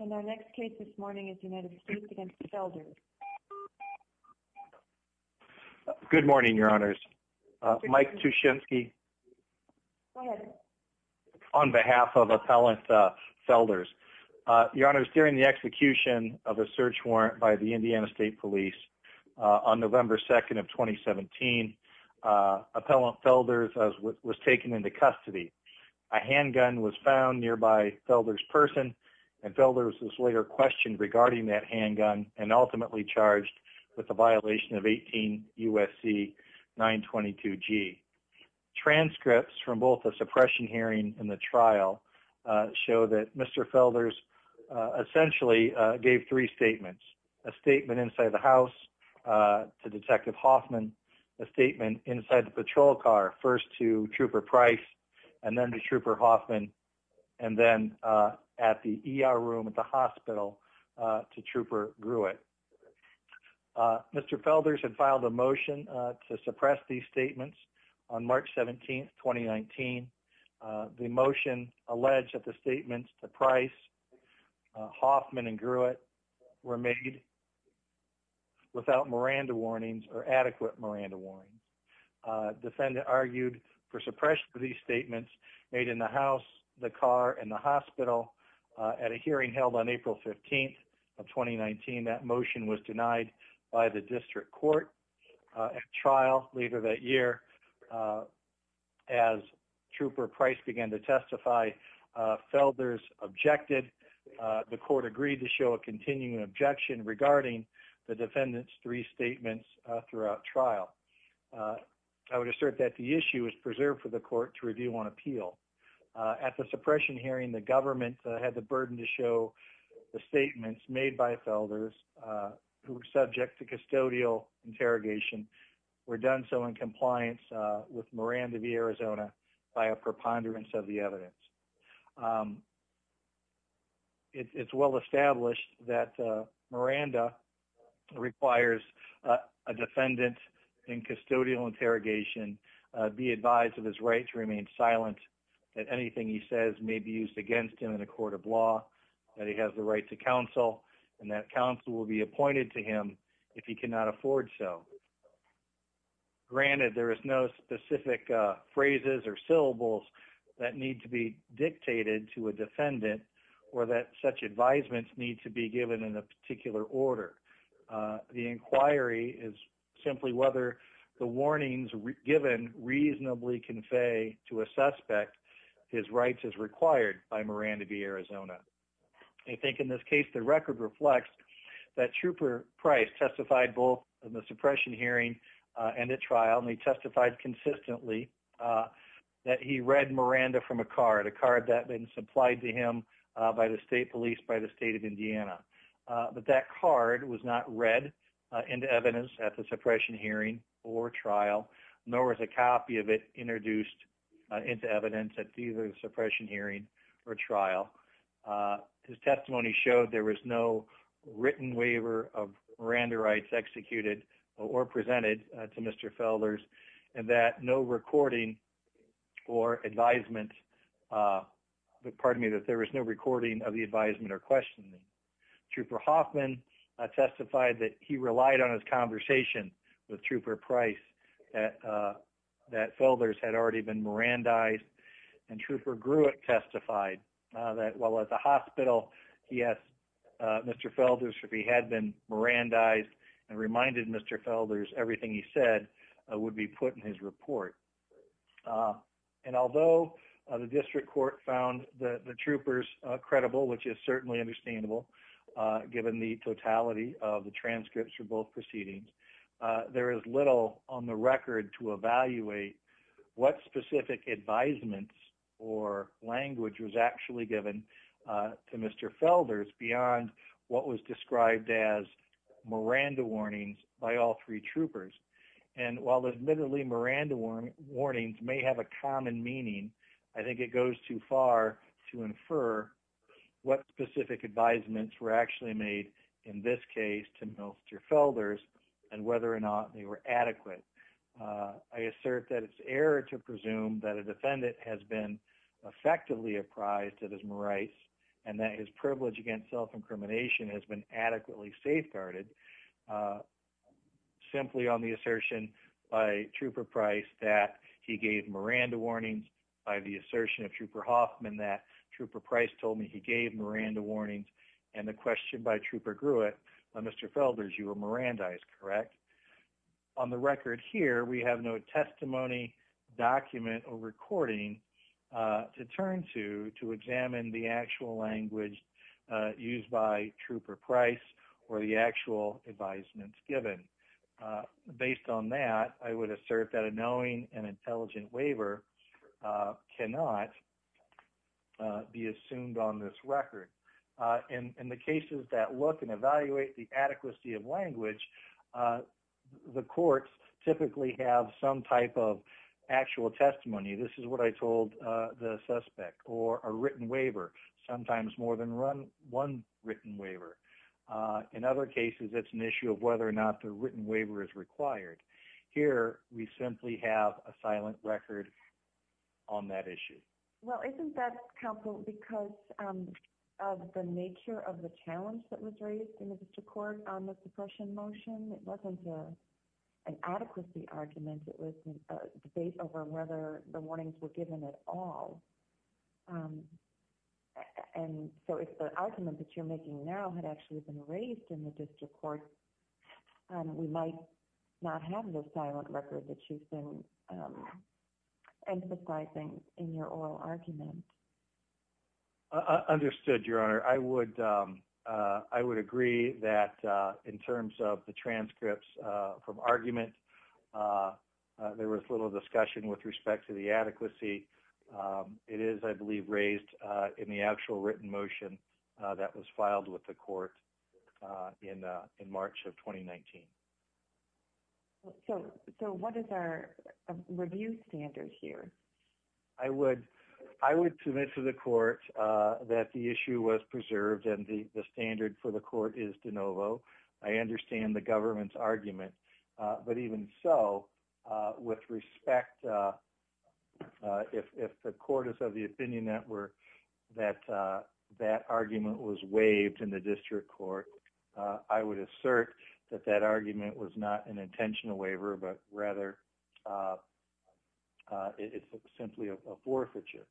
And our next case this morning is United States v. Felders. Good morning, Your Honors. Mike Tuschinski. Go ahead. On behalf of Appellant Felders. Your Honors, during the execution of a search warrant by the Indiana State Police on November 2nd of 2017, Appellant Felders was taken into custody. A handgun was found nearby Felders' person and Felders was later questioned regarding that handgun and ultimately charged with a violation of 18 U.S.C. 922 G. Transcripts from both the suppression hearing and the trial show that Mr. Felders essentially gave three statements. A statement inside the house to Detective Hoffman. A statement inside the patrol car, first to Trooper Price and then to Trooper Hoffman. And then at the ER room at the hospital to Trooper Grewitt. Mr. Felders had filed a motion to suppress these statements on March 17th, 2019. The motion alleged that the statements to Price, Hoffman and Grewitt were made without Miranda warnings or adequate Miranda warnings. Defendant argued for suppression of these statements made in the house, the car and the hospital at a hearing held on April 15th of 2019. That motion was denied by the district court. At trial later that year, as Trooper Price began to testify, Felders objected. The court agreed to show a continuing objection regarding the defendant's three statements throughout trial. I would assert that the issue is preserved for the court to review on appeal. At the suppression hearing, the government had the burden to show the statements made by Felders who were subject to custodial interrogation were done so in compliance with Miranda v. Arizona by a preponderance of the evidence. It's well established that Miranda requires a defendant in custodial interrogation be advised of his right to remain silent, that anything he says may be used against him in a court of law, that he has the right to counsel and that counsel will be appointed to him if he cannot afford so. Granted, there is no specific phrases or syllables that need to be dictated to a defendant or that such advisements need to be given in a particular order. The inquiry is simply whether the warnings given reasonably convey to a suspect his rights as required by Miranda v. Arizona. I think in this case the record reflects that Trooper Price testified both in the suppression hearing and at trial and he testified consistently that he read Miranda from a card, a card that had been supplied to him by the state police by the state of Indiana. But that card was not read into evidence at the suppression hearing or trial, nor was a copy of it introduced into evidence at either the suppression hearing or trial. His testimony showed there was no written waiver of Miranda rights executed or presented to Mr. Felders and that no recording or advisement, pardon me, that there was no recording of the advisement or questioning. Trooper Hoffman testified that he relied on his conversation with Trooper Price that Felders had already been Mirandized and Trooper Gruitt testified that while at the hospital he asked Mr. Felders if he had been Mirandized and reminded Mr. Felders everything he said would be put in his report. And although the district court found the troopers credible which is certainly understandable given the totality of the transcripts from both proceedings, there is little on the record to evaluate what specific advisements or language was actually given to Mr. Felders beyond what was described as Miranda warnings by all three troopers. And while admittedly Miranda warnings may have a common meaning, I think it goes too far to infer what specific advisements were actually made in this case to Mr. Felders and whether or not they were adequate. I assert that it's error to presume that a defendant has been effectively apprised of his rights and that his privilege against self-incrimination has been adequately safeguarded simply on the assertion by Trooper Price that he gave Miranda warnings by the assertion of Trooper Hoffman that Trooper Price told me he gave Miranda warnings and the question by Trooper Gruitt, Mr. Felders, you were Mirandized, correct? On the record here, we have no testimony, document or recording to turn to examine the actual language used by Trooper Price or the actual advisements given. Based on that, I would assert that a knowing and intelligent waiver cannot be assumed on this record. In the cases that look and evaluate the adequacy of language, the courts typically have some type of actual testimony. This is what I told the suspect or a written waiver, sometimes more than one written waiver. In other cases, it's an issue of whether or not the written waiver is required. Here, we simply have a silent record on that issue. Well, isn't that, counsel, because of the nature of the challenge that was raised in the district court on the suppression motion? It wasn't an adequacy argument. It was a debate over whether the warnings were given at all. If the argument that you're making now had actually been raised in the district court, we might not have the silent record that you've been emphasizing in your oral argument. Understood, Your Honor. I would agree that in terms of the transcripts from argument, there was little discussion with respect to the adequacy. It is, I believe, raised in the actual written motion that was filed with the court in March of 2019. So, what is our review standard here? I would submit to the court that the issue was preserved and the standard for the court is de novo. I understand the government's argument, but even so, with respect, if the court is of the opinion that that argument was waived in the district court, I would assert that that argument was not an intentional waiver, but rather it's simply a forfeiture.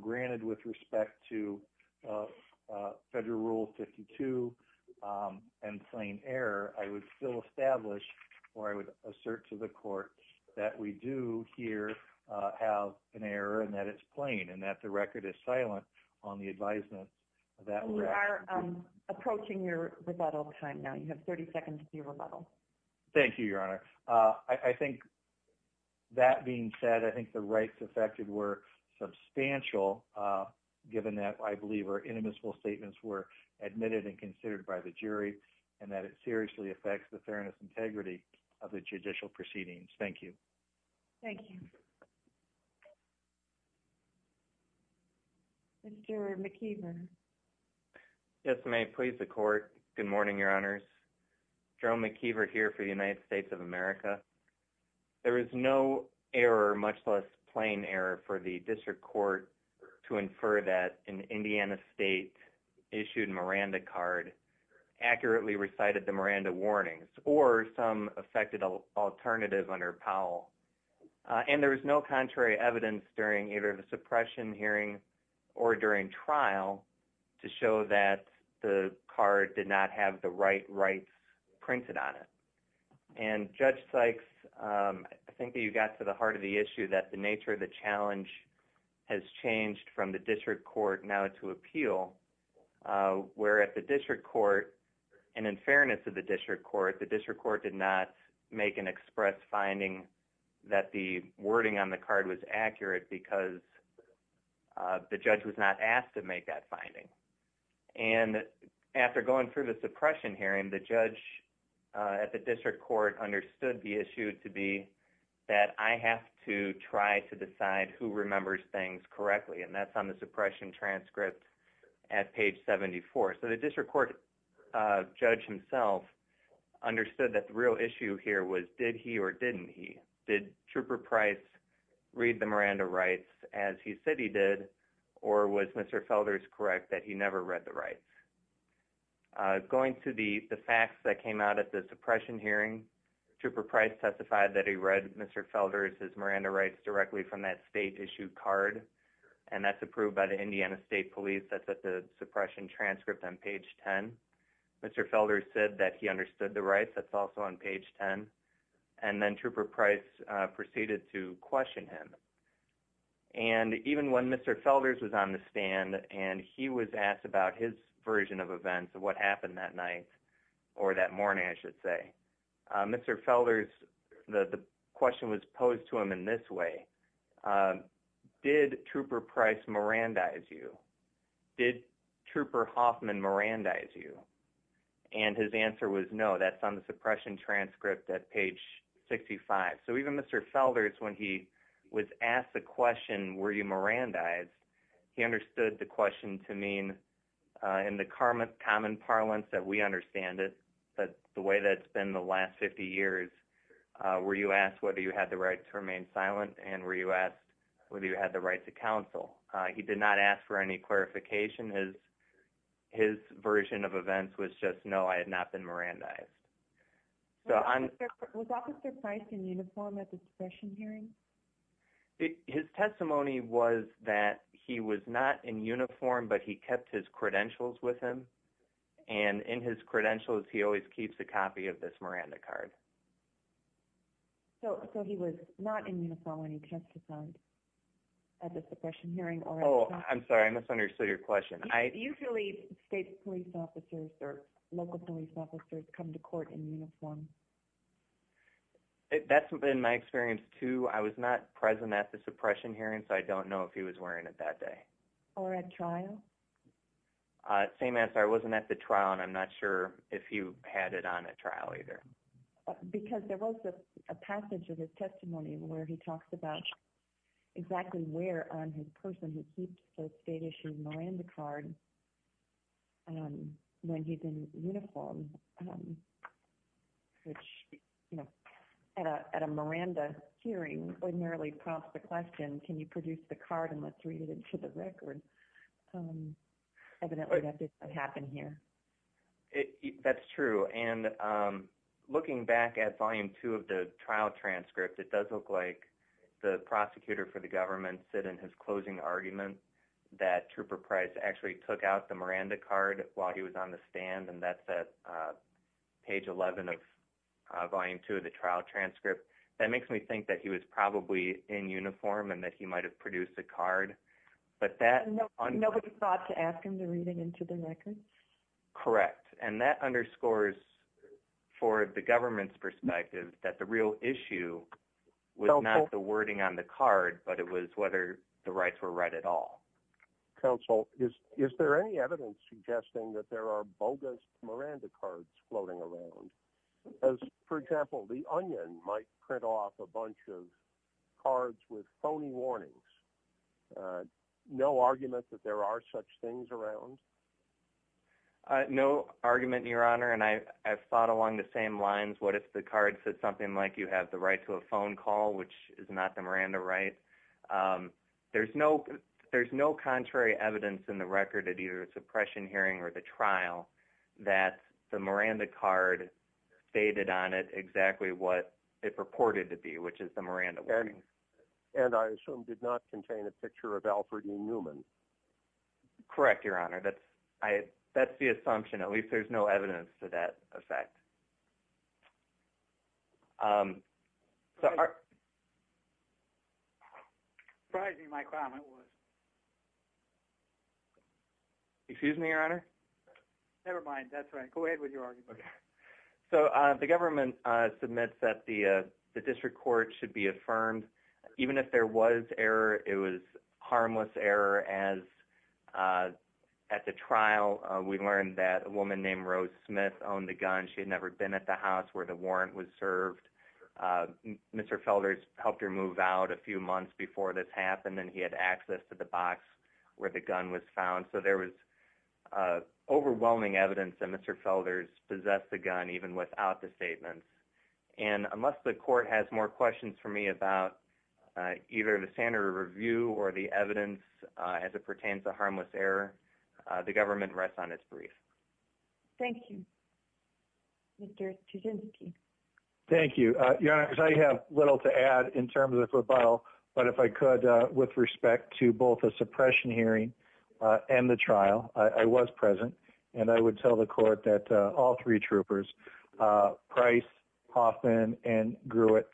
Granted, with respect to Federal Rule 52 and plain error, I would still establish or I would assert to the court that we do here have an error and that it's plain and that the record is silent on the advisement. We are approaching your rebuttal time now. You have 30 seconds for your rebuttal. Thank you, Your Honor. I think that being said, I think the rights affected were substantial given that I believe our inadmissible statements were admitted and considered by the jury and that it seriously affects the fairness and integrity of the judicial proceedings. Thank you. Thank you. Mr. McKeever. Yes, ma'am. Please, the court. Good morning, Your Honors. Joe McKeever here for the United States of America. There is no error, much less plain error for the district court to infer that an Indiana State issued Miranda card accurately recited the Miranda warnings or some affected alternative under Powell. And there was no contrary evidence during either the suppression hearing or during trial to show that the card did not have the right rights printed on it. And Judge Sykes, I think that you got to the heart of the issue that the nature of the challenge has changed from the district court now to appeal, where at the district court and in fairness to the district court, the district court did not make an express finding that the wording on the card was accurate because the judge was not asked to make that finding. And after going through the suppression hearing, the judge at the district court understood the issue to be that I have to try to decide who remembers things correctly. And that's on the suppression transcript at page 74. So the district court judge himself understood that the real issue here was did he or didn't he? Did Trooper Price read the Miranda rights as he said he did or was Mr. Felders correct that he never read the rights? Going to the facts that came out at the suppression hearing, Trooper Price testified that he read Mr. Felders' Miranda rights directly from that state issued card. And that's approved by the Indiana State Police. That's at the suppression transcript on page 10. Mr. Felders said that he understood the rights. That's also on page 10. And then Trooper Price proceeded to question him. And even when Mr. Felders was on the stand and he was asked about his version of events, what happened that night or that morning, I should say, Mr. Felders, the question was posed to him in this way. Did Trooper Price Mirandize you? Did Trooper Hoffman Mirandize you? And his answer was no. That's on the suppression transcript at page 65. So even Mr. Felders, when he was asked the question, were you Mirandized, he understood the question to mean in the common parlance that we understand it. But the way that's been the last 50 years, were you asked whether you had the right to remain silent? And were you asked whether you had the right to counsel? He did not ask for any clarification. His version of events was just no, I had not been Mirandized. Was Officer Price in uniform at the suppression hearing? His testimony was that he was not in uniform, but he kept his credentials with him. And in his credentials, he always keeps a copy of this Miranda card. So he was not in uniform when he testified at the suppression hearing? Oh, I'm sorry, I misunderstood your question. Do you believe state police officers or local police officers come to court in uniform? That's been my experience too. I was not present at the suppression hearing, so I don't know if he was wearing it that day. Or at trial? Same answer. I wasn't at the trial, and I'm not sure if he had it on at trial either. Because there was a passage of his testimony where he talks about exactly where on his person he keeps the state-issued Miranda card when he's in uniform, which at a Miranda hearing would merely prompt the question, can you produce the card and let's read it into the record? Evidently, that didn't happen here. That's true. And looking back at volume 2 of the trial transcript, it does look like the prosecutor for the government said in his closing argument that Trooper Price actually took out the Miranda card while he was on the stand, and that's at page 11 of volume 2 of the trial transcript. That makes me think that he was probably in uniform and that he might have produced the card. Nobody thought to ask him to read it into the record? Correct. And that underscores for the government's perspective that the real issue was not the wording on the card, but it was whether the rights were right at all. Counsel, is there any evidence suggesting that there are bogus Miranda cards floating around? For example, the Onion might print off a bunch of cards with phony warnings. No argument that there are such things around? No argument, Your Honor, and I have thought along the same lines. What if the card said something like you have the right to a phone call, which is not the Miranda right? There's no contrary evidence in the record at either the suppression hearing or the trial that the Miranda card stated on it exactly what it purported to be, which is the Miranda warnings. And I assume did not contain a picture of Alfred E. Newman. Correct, Your Honor. That's the assumption. At least there's no evidence to that effect. Surprising my comment was. Excuse me, Your Honor? Never mind. That's right. Go ahead with your argument. The government submits that the district court should be affirmed. Even if there was error, it was harmless error. At the trial, we learned that a woman named Rose Smith owned a gun. She had never been at the house where the warrant was served. Mr. Felder's helped her move out a few months before this happened, and he had access to the box where the gun was found. So there was overwhelming evidence that Mr. Felder's possessed the gun even without the statements. And unless the court has more questions for me about either the standard of review or the evidence as it pertains to harmless error, the government rests on its brief. Thank you. Mr. Chudinsky. Thank you, Your Honor. I have little to add in terms of rebuttal, but if I could, with respect to both a suppression hearing and the trial, I was present and I would tell the court that all three troopers, Price, Hoffman, and Grewitt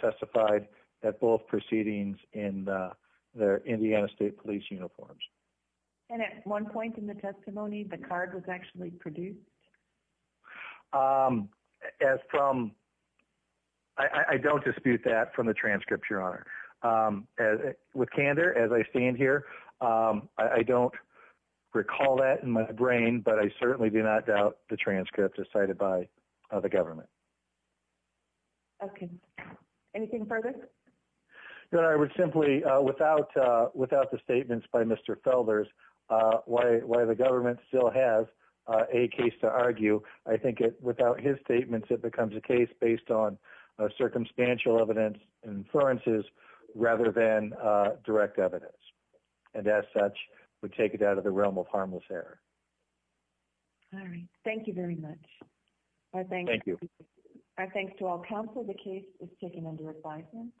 testified at both proceedings in their Indiana State Police uniforms. And at one point in the testimony, the card was actually produced? I don't dispute that from the transcripts, Your Honor. With candor, as I stand here, I don't recall that in my brain, but I certainly do not doubt the transcripts as cited by the government. Okay. Anything further? Your Honor, I would simply, without the statements by Mr. Felder's, while the government still has a case to argue, I think without his statements, it becomes a case based on circumstantial evidence and inferences rather than direct evidence. And as such, we take it out of the realm of harmless error. All right. Thank you very much. Thank you. Our thanks to all counsel. The case is taken under advisement.